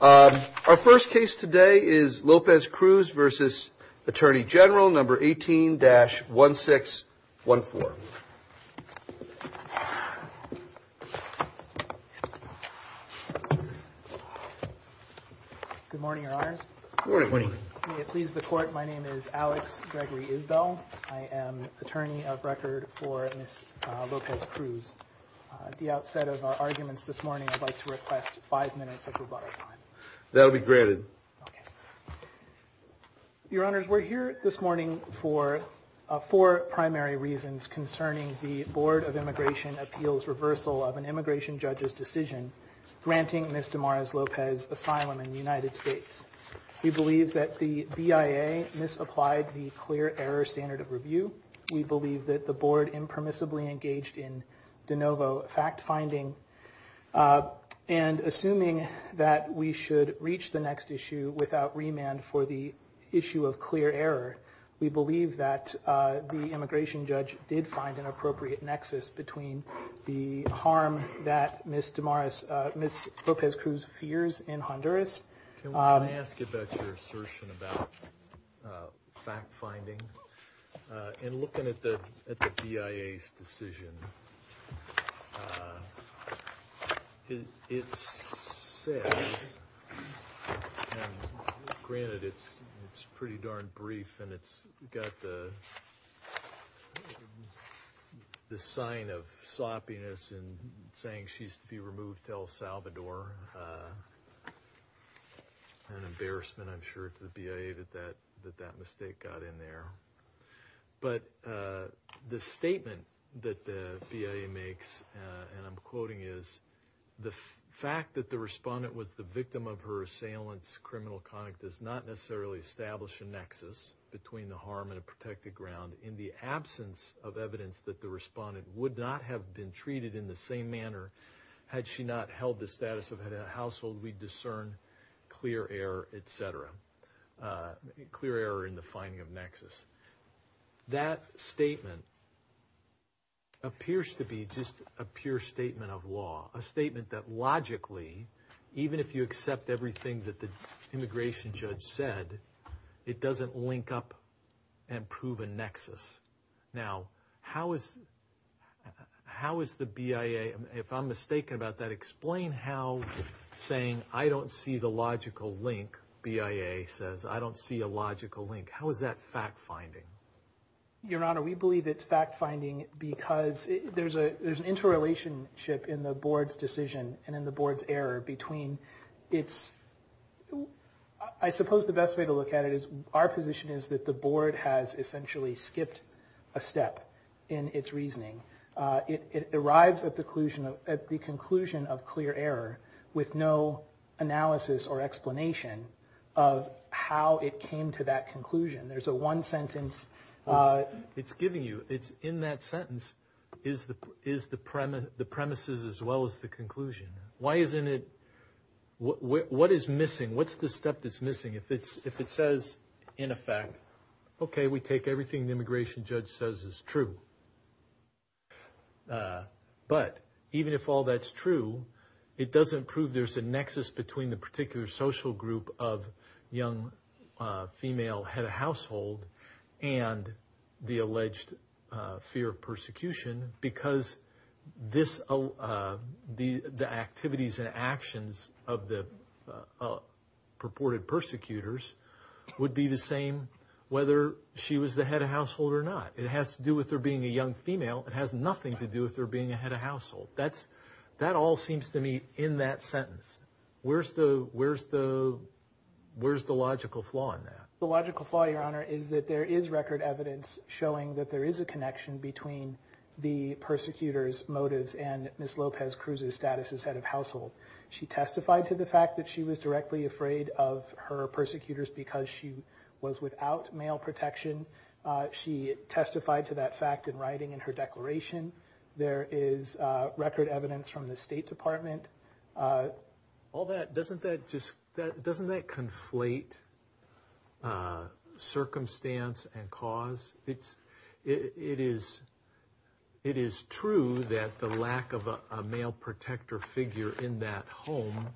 Our first case today is Lopez-Cruz v. Attorney General No. 18-1614. Good morning, Your Honors. Good morning. May it please the Court, my name is Alex Gregory Isbell. I am attorney of record for Ms. Lopez-Cruz. At the outset of our arguments this morning, I'd like to request five minutes of rebuttal time. That will be granted. Your Honors, we're here this morning for four primary reasons concerning the Board of Immigration Appeals' reversal of an immigration judge's decision granting Ms. Damaris Lopez asylum in the United States. We believe that the BIA misapplied the clear error standard of review. We believe that the Board impermissibly engaged in de novo fact-finding. And assuming that we should reach the next issue without remand for the issue of clear error, we believe that the immigration judge did find an appropriate nexus between the harm that Ms. Damaris, Ms. Lopez-Cruz fears in Honduras. Can I ask about your assertion about fact-finding? In looking at the BIA's decision, it says, and granted it's pretty darn brief, and it's got the sign of sloppiness in saying she's to be removed till Salvador. An embarrassment, I'm sure, to the BIA that that mistake got in there. But the statement that the BIA makes, and I'm quoting, is, the fact that the respondent was the victim of her assailant's criminal conduct does not necessarily establish a nexus between the harm and a protected ground in the absence of evidence that the respondent would not have been treated in the same manner had she not held the status of head of household. We discern clear error, et cetera, clear error in the finding of nexus. That statement appears to be just a pure statement of law, a statement that logically, even if you accept everything that the immigration judge said, it doesn't link up and prove a nexus. Now, how is the BIA, if I'm mistaken about that, explain how saying I don't see the logical link, BIA says, I don't see a logical link, how is that fact-finding? Your Honor, we believe it's fact-finding because there's an interrelationship in the Board's decision and in the Board's error between its, I suppose the best way to look at it is our position is that the Board has essentially skipped a step in its reasoning. It arrives at the conclusion of clear error with no analysis or explanation of how it came to that conclusion. There's a one sentence. It's giving you, it's in that sentence is the premises as well as the conclusion. Why isn't it, what is missing? What's the step that's missing? If it says, in effect, okay, we take everything the immigration judge says is true, but even if all that's true, it doesn't prove there's a nexus between the particular social group of young female head of household and the alleged fear of persecution because the activities and actions of the purported persecutors would be the same whether she was the head of household or not. It has to do with her being a young female. It has nothing to do with her being a head of household. That all seems to me in that sentence. Where's the logical flaw in that? The logical flaw, Your Honor, is that there is record evidence showing that there is a connection between the persecutors' motives and Ms. Lopez Cruz's status as head of household. She testified to the fact that she was directly afraid of her persecutors because she was without male protection. She testified to that fact in writing in her declaration. There is record evidence from the State Department. Doesn't that conflate circumstance and cause? It is true that the lack of a male protector figure in that home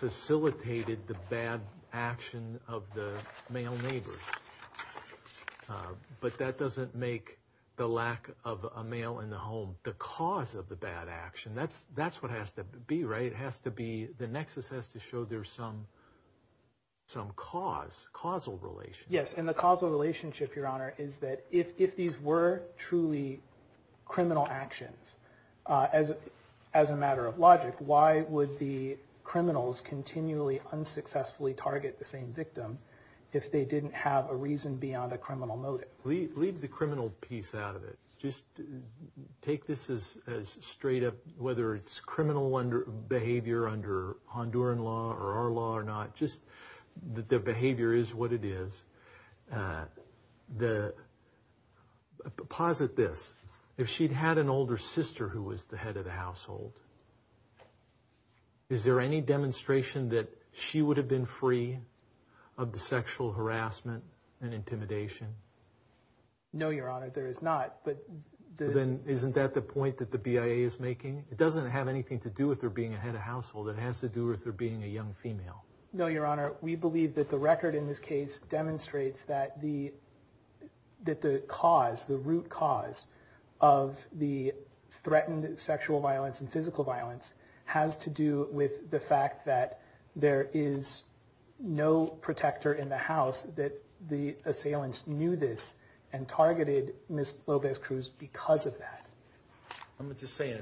facilitated the bad action of the male neighbors. But that doesn't make the lack of a male in the home the cause of the bad action. That's what has to be, right? The nexus has to show there's some cause, causal relationship. Yes, and the causal relationship, Your Honor, is that if these were truly criminal actions, as a matter of logic, why would the criminals continually unsuccessfully target the same victim if they didn't have a reason beyond a criminal motive? Leave the criminal piece out of it. Just take this as straight up, whether it's criminal behavior under Honduran law or our law or not, just that the behavior is what it is. Posit this. If she'd had an older sister who was the head of the household, is there any demonstration that she would have been free of the sexual harassment and intimidation? No, Your Honor, there is not. Then isn't that the point that the BIA is making? It doesn't have anything to do with her being a head of household. It has to do with her being a young female. No, Your Honor. We believe that the record in this case demonstrates that the cause, the root cause of the threatened sexual violence and physical violence has to do with the fact that there is no protector in the house, that the assailants knew this and targeted Ms. López-Cruz because of that. I'm just saying,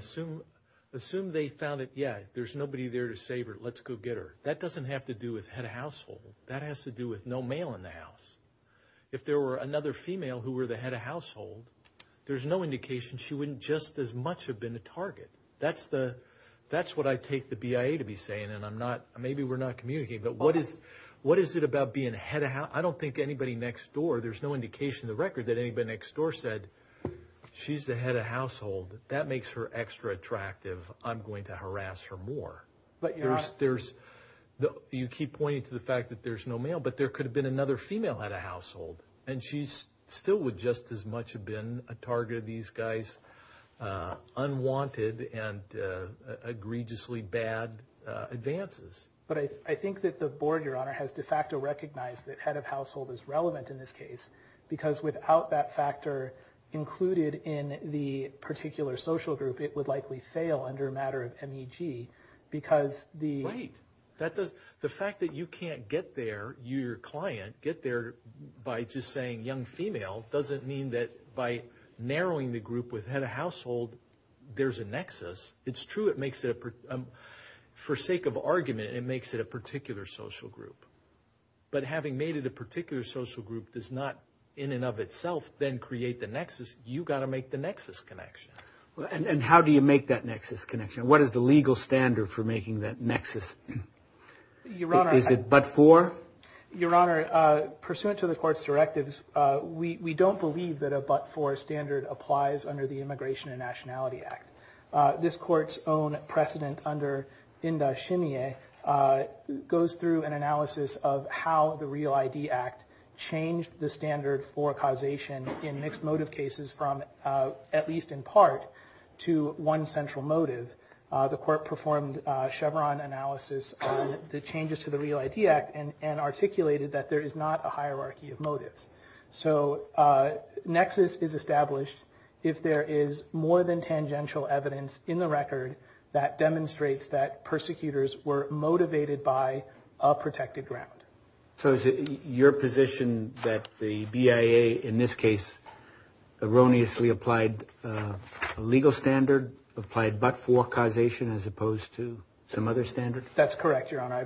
assume they found it, yeah, there's nobody there to save her, let's go get her. That doesn't have to do with head of household. That has to do with no male in the house. If there were another female who were the head of household, there's no indication she wouldn't just as much have been the target. That's what I take the BIA to be saying, and maybe we're not communicating, but what is it about being head of household? I don't think anybody next door, there's no indication in the record that anybody next door said, she's the head of household, that makes her extra attractive, I'm going to harass her more. You keep pointing to the fact that there's no male, but there could have been another female head of household, and she still would just as much have been a target of these guys' unwanted and egregiously bad advances. But I think that the Board, Your Honor, has de facto recognized that head of household is relevant in this case, because without that factor included in the particular social group, it would likely fail under a matter of MEG, because the... Right. The fact that you can't get there, you, your client, get there by just saying young female doesn't mean that by narrowing the group with head of household, there's a nexus. It's true it makes it, for sake of argument, it makes it a particular social group. But having made it a particular social group does not, in and of itself, then create the nexus. You've got to make the nexus connection. And how do you make that nexus connection? What is the legal standard for making that nexus? Is it but-for? Your Honor, pursuant to the Court's directives, we don't believe that a but-for standard applies under the Immigration and Nationality Act. This Court's own precedent under Indah Shimieh goes through an analysis of how the REAL ID Act changed the standard for causation in mixed motive cases from at least in part to one central motive. The Court performed Chevron analysis on the changes to the REAL ID Act and articulated that there is not a hierarchy of motives. So nexus is established if there is more than tangential evidence in the record that demonstrates that persecutors were motivated by a protected ground. So is it your position that the BIA in this case erroneously applied a legal standard, applied but-for causation as opposed to some other standard? That's correct, Your Honor.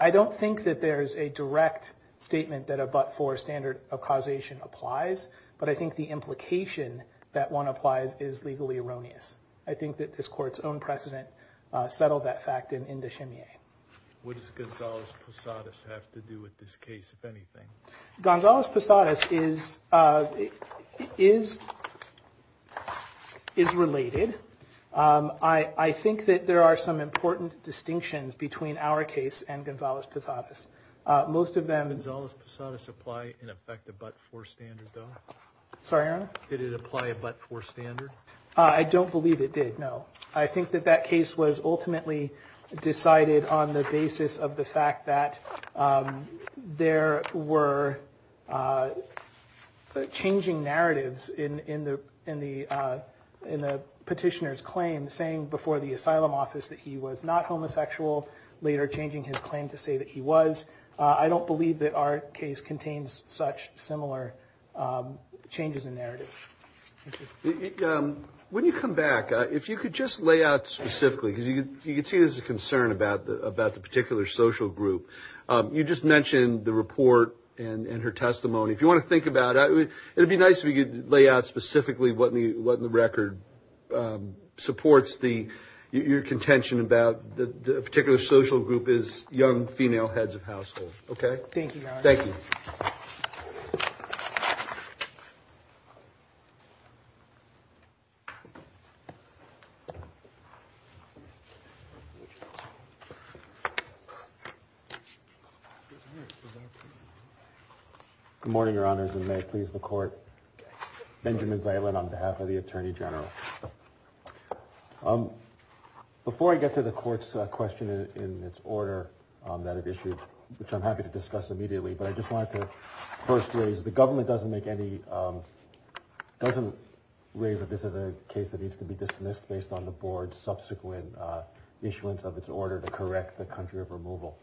I don't think that there is a direct statement that a but-for standard of causation applies, but I think the implication that one applies is legally erroneous. I think that this Court's own precedent settled that fact in Indah Shimieh. What does Gonzales-Posadas have to do with this case, if anything? Gonzales-Posadas is related. I think that there are some important distinctions between our case and Gonzales-Posadas. Most of them— Did Gonzales-Posadas apply, in effect, a but-for standard, though? Sorry, Your Honor? Did it apply a but-for standard? I don't believe it did, no. I think that that case was ultimately decided on the basis of the fact that there were changing narratives in the petitioner's claim saying before the asylum office that he was not homosexual, later changing his claim to say that he was. I don't believe that our case contains such similar changes in narrative. When you come back, if you could just lay out specifically, because you can see there's a concern about the particular social group. You just mentioned the report and her testimony. If you want to think about it, it would be nice if you could lay out specifically what in the record supports your contention about the particular social group is young female heads of household, okay? Thank you, Your Honor. Thank you. Good morning, Your Honors, and may it please the Court. Benjamin Zaylin on behalf of the Attorney General. Before I get to the Court's question in its order that it issued, which I'm happy to discuss immediately, but I just wanted to first raise the government doesn't make any – doesn't raise that this is a case that needs to be dismissed based on the Board's subsequent issuance of its order to correct the country of removal.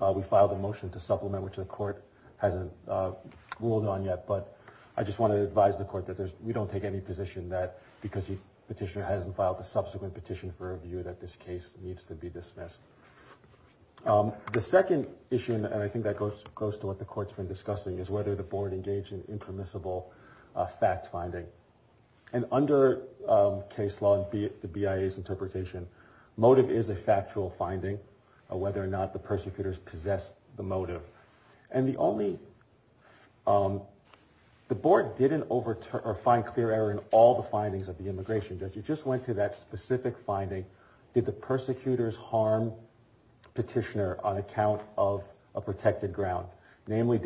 We filed a motion to supplement, which the Court hasn't ruled on yet, but I just want to advise the Court that we don't take any position that, because the petitioner hasn't filed a subsequent petition for review, that this case needs to be dismissed. The second issue, and I think that goes to what the Court's been discussing, is whether the Board engaged in impermissible fact-finding. And under case law, the BIA's interpretation, motive is a factual finding, whether or not the persecutors possessed the motive. And the only – the Board didn't overturn or find clear error in all the findings of the immigration judge. It just went to that specific finding. Did the persecutors harm petitioner on account of a protected ground? Namely,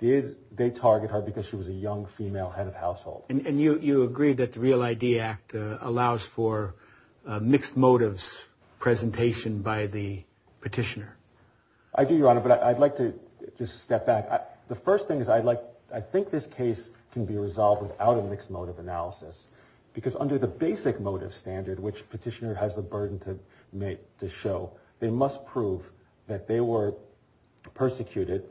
did they target her because she was a young female head of household? And you agree that the REAL ID Act allows for mixed motives presentation by the petitioner? I do, Your Honor, but I'd like to just step back. The first thing is I'd like – I think this case can be resolved without a mixed motive analysis, because under the basic motive standard, which petitioner has the burden to show, they must prove that they were persecuted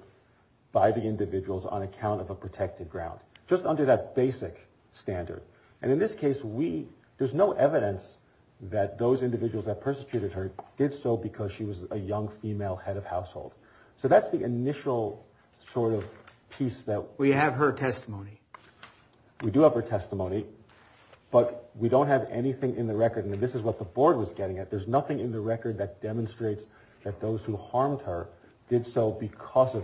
by the individuals on account of a protected ground, just under that basic standard. And in this case, we – there's no evidence that those individuals that persecuted her did so because she was a young female head of household. So that's the initial sort of piece that – We have her testimony. We do have her testimony, but we don't have anything in the record, and this is what the Board was getting at. There's nothing in the record that demonstrates that those who harmed her did so because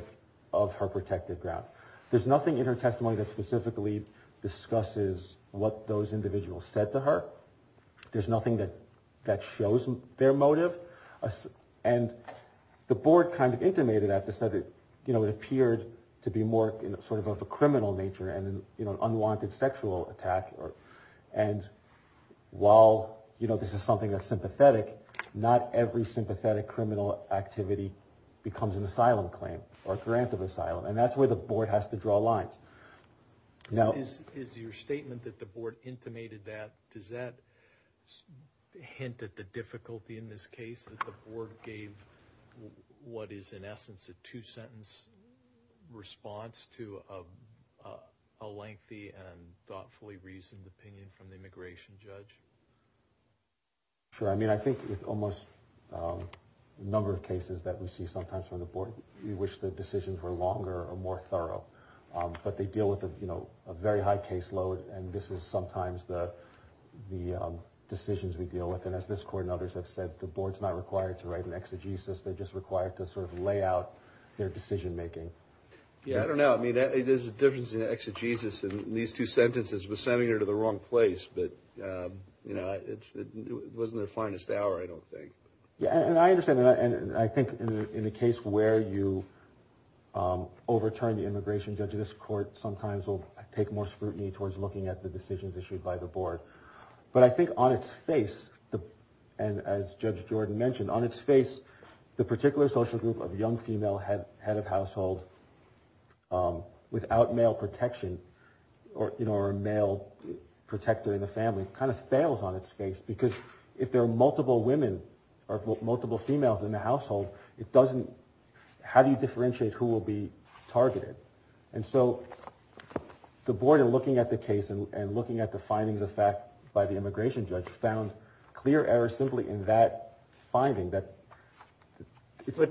of her protected ground. There's nothing in her testimony that specifically discusses what those individuals said to her. There's nothing that shows their motive. And the Board kind of intimated at this that it appeared to be more sort of a criminal nature and an unwanted sexual attack. And while this is something that's sympathetic, not every sympathetic criminal activity becomes an asylum claim or a grant of asylum, and that's where the Board has to draw lines. Is your statement that the Board intimated that – does that hint at the difficulty in this case, that the Board gave what is in essence a two-sentence response to a lengthy and thoughtfully reasoned opinion from the immigration judge? Sure. I mean, I think with almost a number of cases that we see sometimes from the Board, we wish the decisions were longer or more thorough. But they deal with a very high caseload, and this is sometimes the decisions we deal with. And as this Court and others have said, the Board's not required to write an exegesis. They're just required to sort of lay out their decision-making. Yeah, I don't know. I mean, there's a difference in the exegesis, and these two sentences were sending her to the wrong place. But, you know, it wasn't her finest hour, I don't think. Yeah, and I understand. And I think in the case where you overturn the immigration judge, this Court sometimes will take more scrutiny towards looking at the decisions issued by the Board. But I think on its face, and as Judge Jordan mentioned, on its face, the particular social group of young female head of household without male protection or a male protector in the family kind of fails on its face because if there are multiple women or multiple females in the household, how do you differentiate who will be targeted? And so the Board, in looking at the case and looking at the findings of fact by the immigration judge, found clear errors simply in that finding. But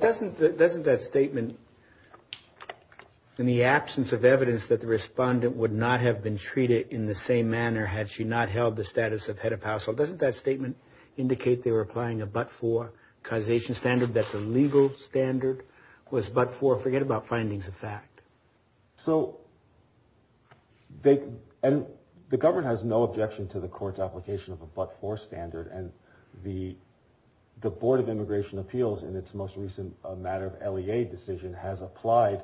doesn't that statement, in the absence of evidence that the respondent would not have been treated in the same manner had she not held the status of head of household, doesn't that statement indicate they were applying a but-for causation standard, that the legal standard was but-for? Forget about findings of fact. So, and the government has no objection to the Court's application of a but-for standard, and the Board of Immigration Appeals, in its most recent matter of LEA decision, has applied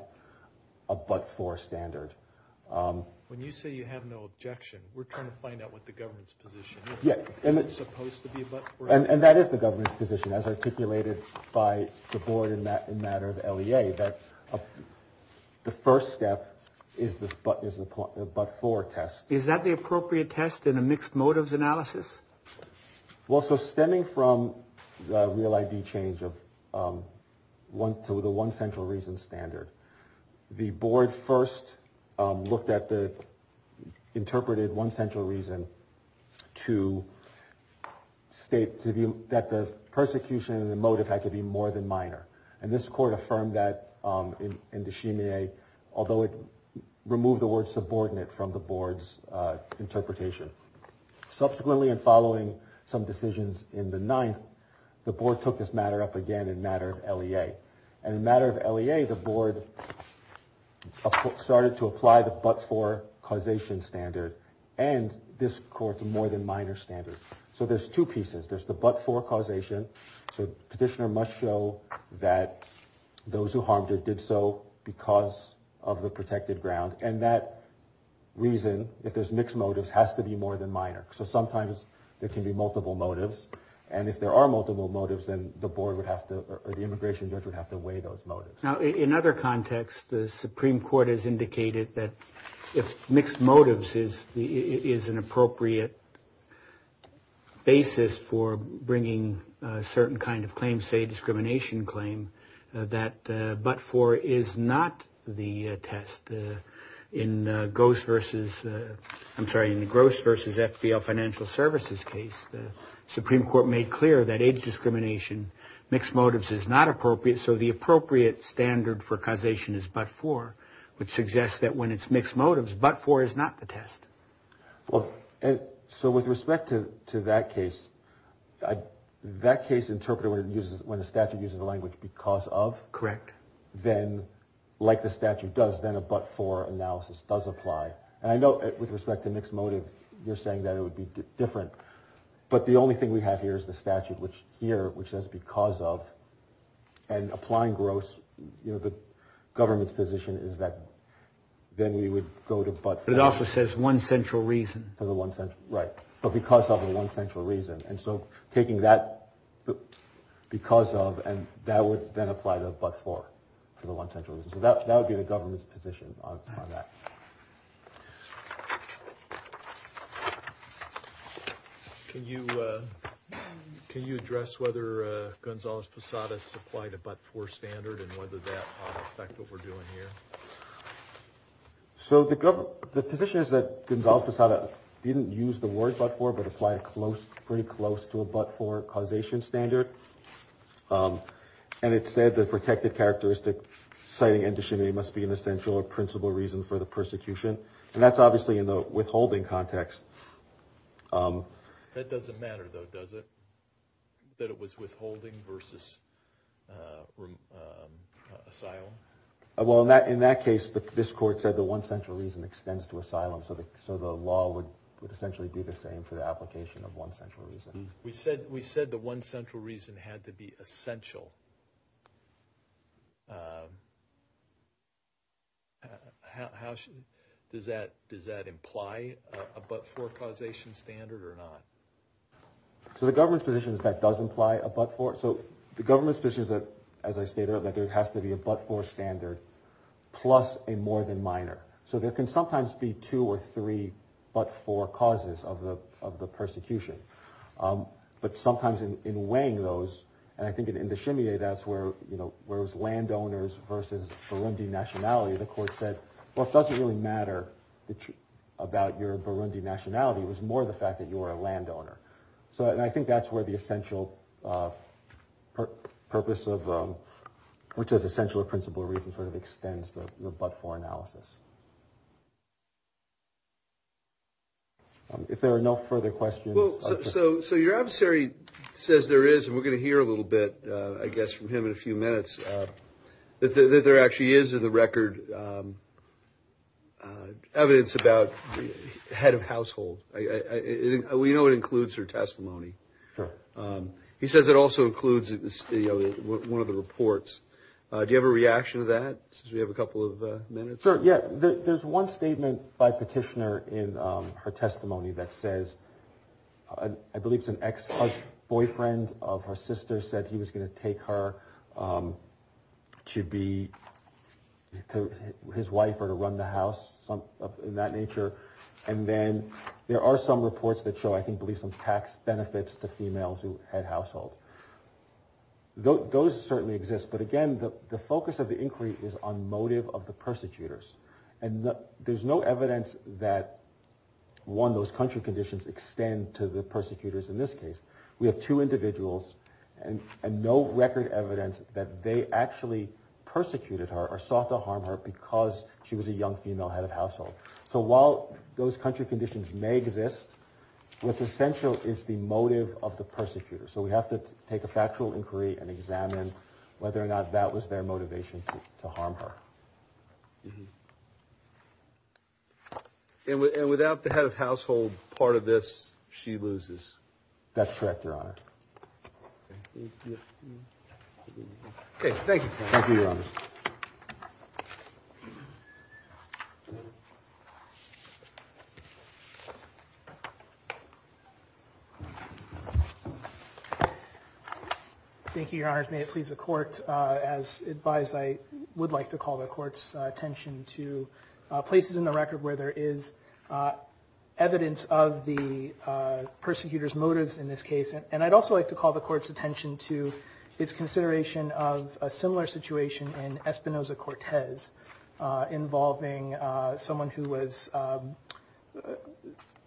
a but-for standard. When you say you have no objection, we're trying to find out what the government's position is. Is it supposed to be a but-for? And that is the government's position, as articulated by the Board in the matter of LEA, that the first step is the but-for test. Is that the appropriate test in a mixed motives analysis? Well, so stemming from the REAL ID change to the one central reason standard, the Board first looked at the interpreted one central reason to state that the persecution and the motive had to be more than minor. And this Court affirmed that in de Chimier, although it removed the word subordinate from the Board's interpretation. Subsequently, in following some decisions in the Ninth, the Board took this matter up again in the matter of LEA. And in the matter of LEA, the Board started to apply the but-for causation standard, and this Court's more-than-minor standard. So there's two pieces. There's the but-for causation. So petitioner must show that those who harmed her did so because of the protected ground. And that reason, if there's mixed motives, has to be more than minor. So sometimes there can be multiple motives. And if there are multiple motives, then the Board would have to or the immigration judge would have to weigh those motives. Now, in other contexts, the Supreme Court has indicated that if mixed motives is an appropriate basis for bringing a certain kind of claim, say a discrimination claim, that but-for is not the test. In Gross versus – I'm sorry, in the Gross versus FDL Financial Services case, the Supreme Court made clear that age discrimination, mixed motives is not appropriate, so the appropriate standard for causation is but-for, which suggests that when it's mixed motives, but-for is not the test. So with respect to that case, that case interpreted when a statute uses the language because of? Correct. Then, like the statute does, then a but-for analysis does apply. And I know with respect to mixed motive, you're saying that it would be different. But the only thing we have here is the statute here, which says because of, and applying Gross, the government's position is that then we would go to but-for. But it also says one central reason. For the one central – right. But because of the one central reason. And so taking that because of, and that would then apply to the but-for for the one central reason. So that would be the government's position on that. Can you address whether Gonzales-Posadas applied a but-for standard and whether that would affect what we're doing here? So the position is that Gonzales-Posadas didn't use the word but-for, but applied it pretty close to a but-for causation standard. And it said the protected characteristic citing indecinity must be an essential or principal reason for the persecution. And that's obviously in the withholding context. That doesn't matter, though, does it, that it was withholding versus asylum? Well, in that case, this court said the one central reason extends to asylum. So the law would essentially be the same for the application of one central reason. We said the one central reason had to be essential. Does that imply a but-for causation standard or not? So the government's position is that does imply a but-for. So the government's position is that, as I stated, that there has to be a but-for standard plus a more than minor. So there can sometimes be two or three but-for causes of the persecution. But sometimes in weighing those, and I think in Indochimia, that's where it was landowners versus Burundi nationality, the court said, well, it doesn't really matter about your Burundi nationality. It was more the fact that you were a landowner. And I think that's where the essential purpose of, which is essential or principal reason sort of extends the but-for analysis. If there are no further questions. So your adversary says there is, and we're going to hear a little bit, I guess, from him in a few minutes, that there actually is in the record evidence about head of household. We know it includes her testimony. He says it also includes one of the reports. Do you have a reaction to that, since we have a couple of minutes? Sure, yeah. There's one statement by Petitioner in her testimony that says, I believe it's an ex-husband, boyfriend of her sister, said he was going to take her to be his wife or to run the house, in that nature. And then there are some reports that show, I believe, some tax benefits to females who had household. Those certainly exist. But again, the focus of the inquiry is on motive of the persecutors. And there's no evidence that, one, those country conditions extend to the persecutors in this case. We have two individuals and no record evidence that they actually persecuted her or sought to harm her because she was a young female head of household. So while those country conditions may exist, what's essential is the motive of the persecutors. So we have to take a factual inquiry and examine whether or not that was their motivation to harm her. And without the head of household part of this, she loses? That's correct, Your Honor. Okay, thank you. Thank you, Your Honor. Thank you, Your Honors. May it please the Court, as advised, I would like to call the Court's attention to places in the record where there is evidence of the persecutors' motives in this case. And I'd also like to call the Court's attention to its consideration of a similar situation in Espinoza-Cortez involving someone who was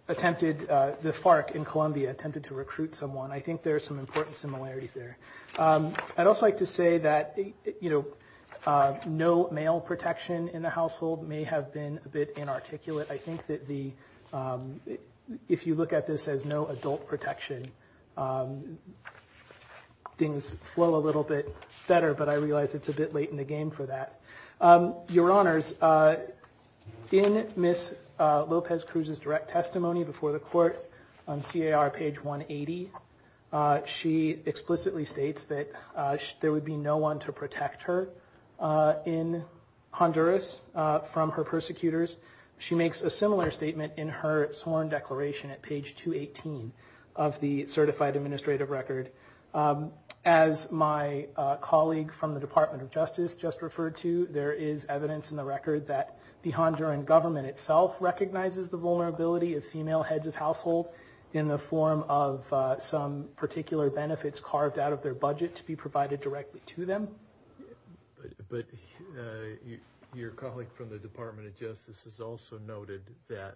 attempted, the FARC in Colombia attempted to recruit someone. I think there are some important similarities there. I'd also like to say that, you know, no male protection in the household may have been a bit inarticulate. I think that if you look at this as no adult protection, things flow a little bit better, but I realize it's a bit late in the game for that. Your Honors, in Ms. Lopez Cruz's direct testimony before the Court on CAR page 180, she explicitly states that there would be no one to protect her in Honduras from her persecutors. She makes a similar statement in her sworn declaration at page 218 of the Certified Administrative Record. As my colleague from the Department of Justice just referred to, there is evidence in the record that the Honduran government itself recognizes the vulnerability of female heads of household in the form of some particular benefits carved out of their budget to be provided directly to them. But your colleague from the Department of Justice has also noted that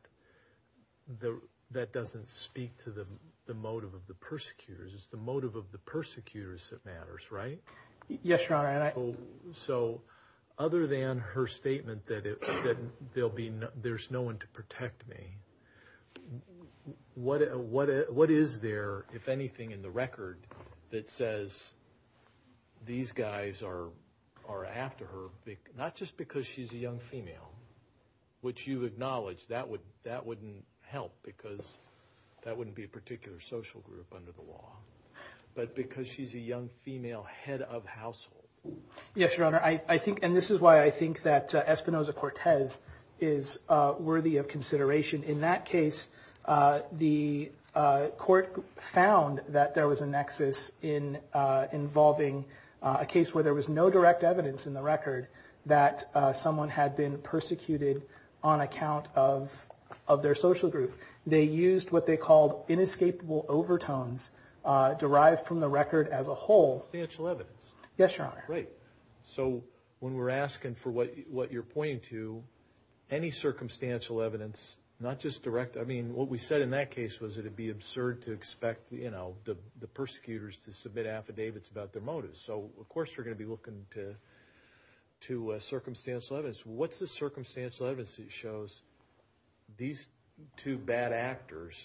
that doesn't speak to the motive of the persecutors. It's the motive of the persecutors that matters, right? Yes, Your Honor. So other than her statement that there's no one to protect me, what is there, if anything, in the record that says these guys are after her? Not just because she's a young female, which you acknowledge that wouldn't help because that wouldn't be a particular social group under the law, but because she's a young female head of household. Yes, Your Honor. And this is why I think that Espinoza-Cortez is worthy of consideration. In that case, the court found that there was a nexus involving a case where there was no direct evidence in the record that someone had been persecuted on account of their social group. They used what they called inescapable overtones derived from the record as a whole. Circumstantial evidence. Yes, Your Honor. Great. So when we're asking for what you're pointing to, any circumstantial evidence, not just direct, I mean, what we said in that case was it would be absurd to expect the persecutors to submit affidavits about their motives. So, of course, we're going to be looking to circumstantial evidence. What's the circumstantial evidence that shows these two bad actors,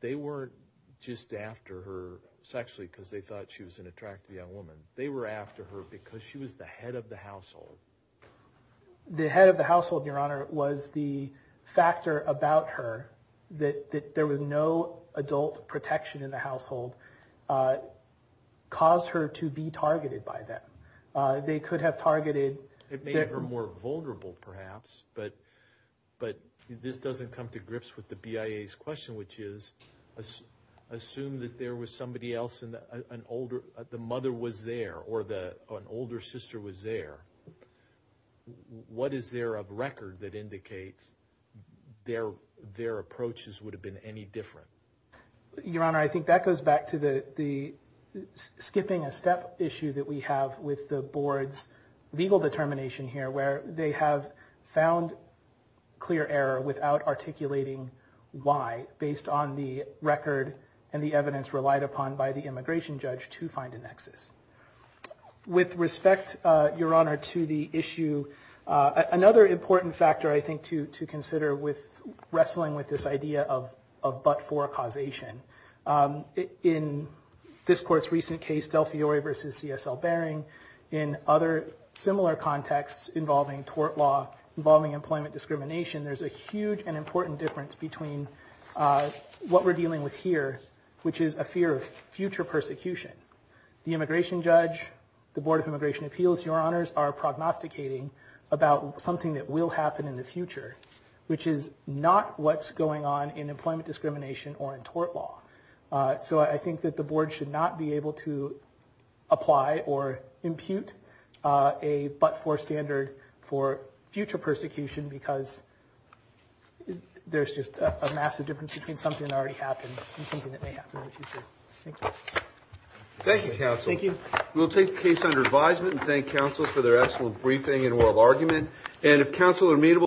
they weren't just after her sexually because they thought she was an attractive young woman. They were after her because she was the head of the household. The head of the household, Your Honor, was the factor about her that there was no adult protection in the household caused her to be targeted by them. They could have targeted. It made her more vulnerable, perhaps. But this doesn't come to grips with the BIA's question, which is assume that there was somebody else and the mother was there or an older sister was there. What is there of record that indicates their approaches would have been any different? Your Honor, I think that goes back to the skipping a step issue that we have with the board's legal determination here where they have found clear error without articulating why, based on the record and the evidence relied upon by the immigration judge to find a nexus. With respect, Your Honor, to the issue, another important factor I think to consider with wrestling with this idea of but-for causation, in this court's recent case, Del Fiore v. C.S.L. Baring, in other similar contexts involving tort law, involving employment discrimination, there's a huge and important difference between what we're dealing with here, which is a fear of future persecution. The immigration judge, the Board of Immigration Appeals, Your Honors, are prognosticating about something that will happen in the future, which is not what's going on in employment discrimination or in tort law. So I think that the board should not be able to apply or impute a but-for standard for future persecution because there's just a massive difference between something that already happened and something that may happen in the future. Thank you. Thank you, counsel. Thank you. We'll take the case under advisement and thank counsels for their excellent briefing and oral argument. And if counsel are amenable,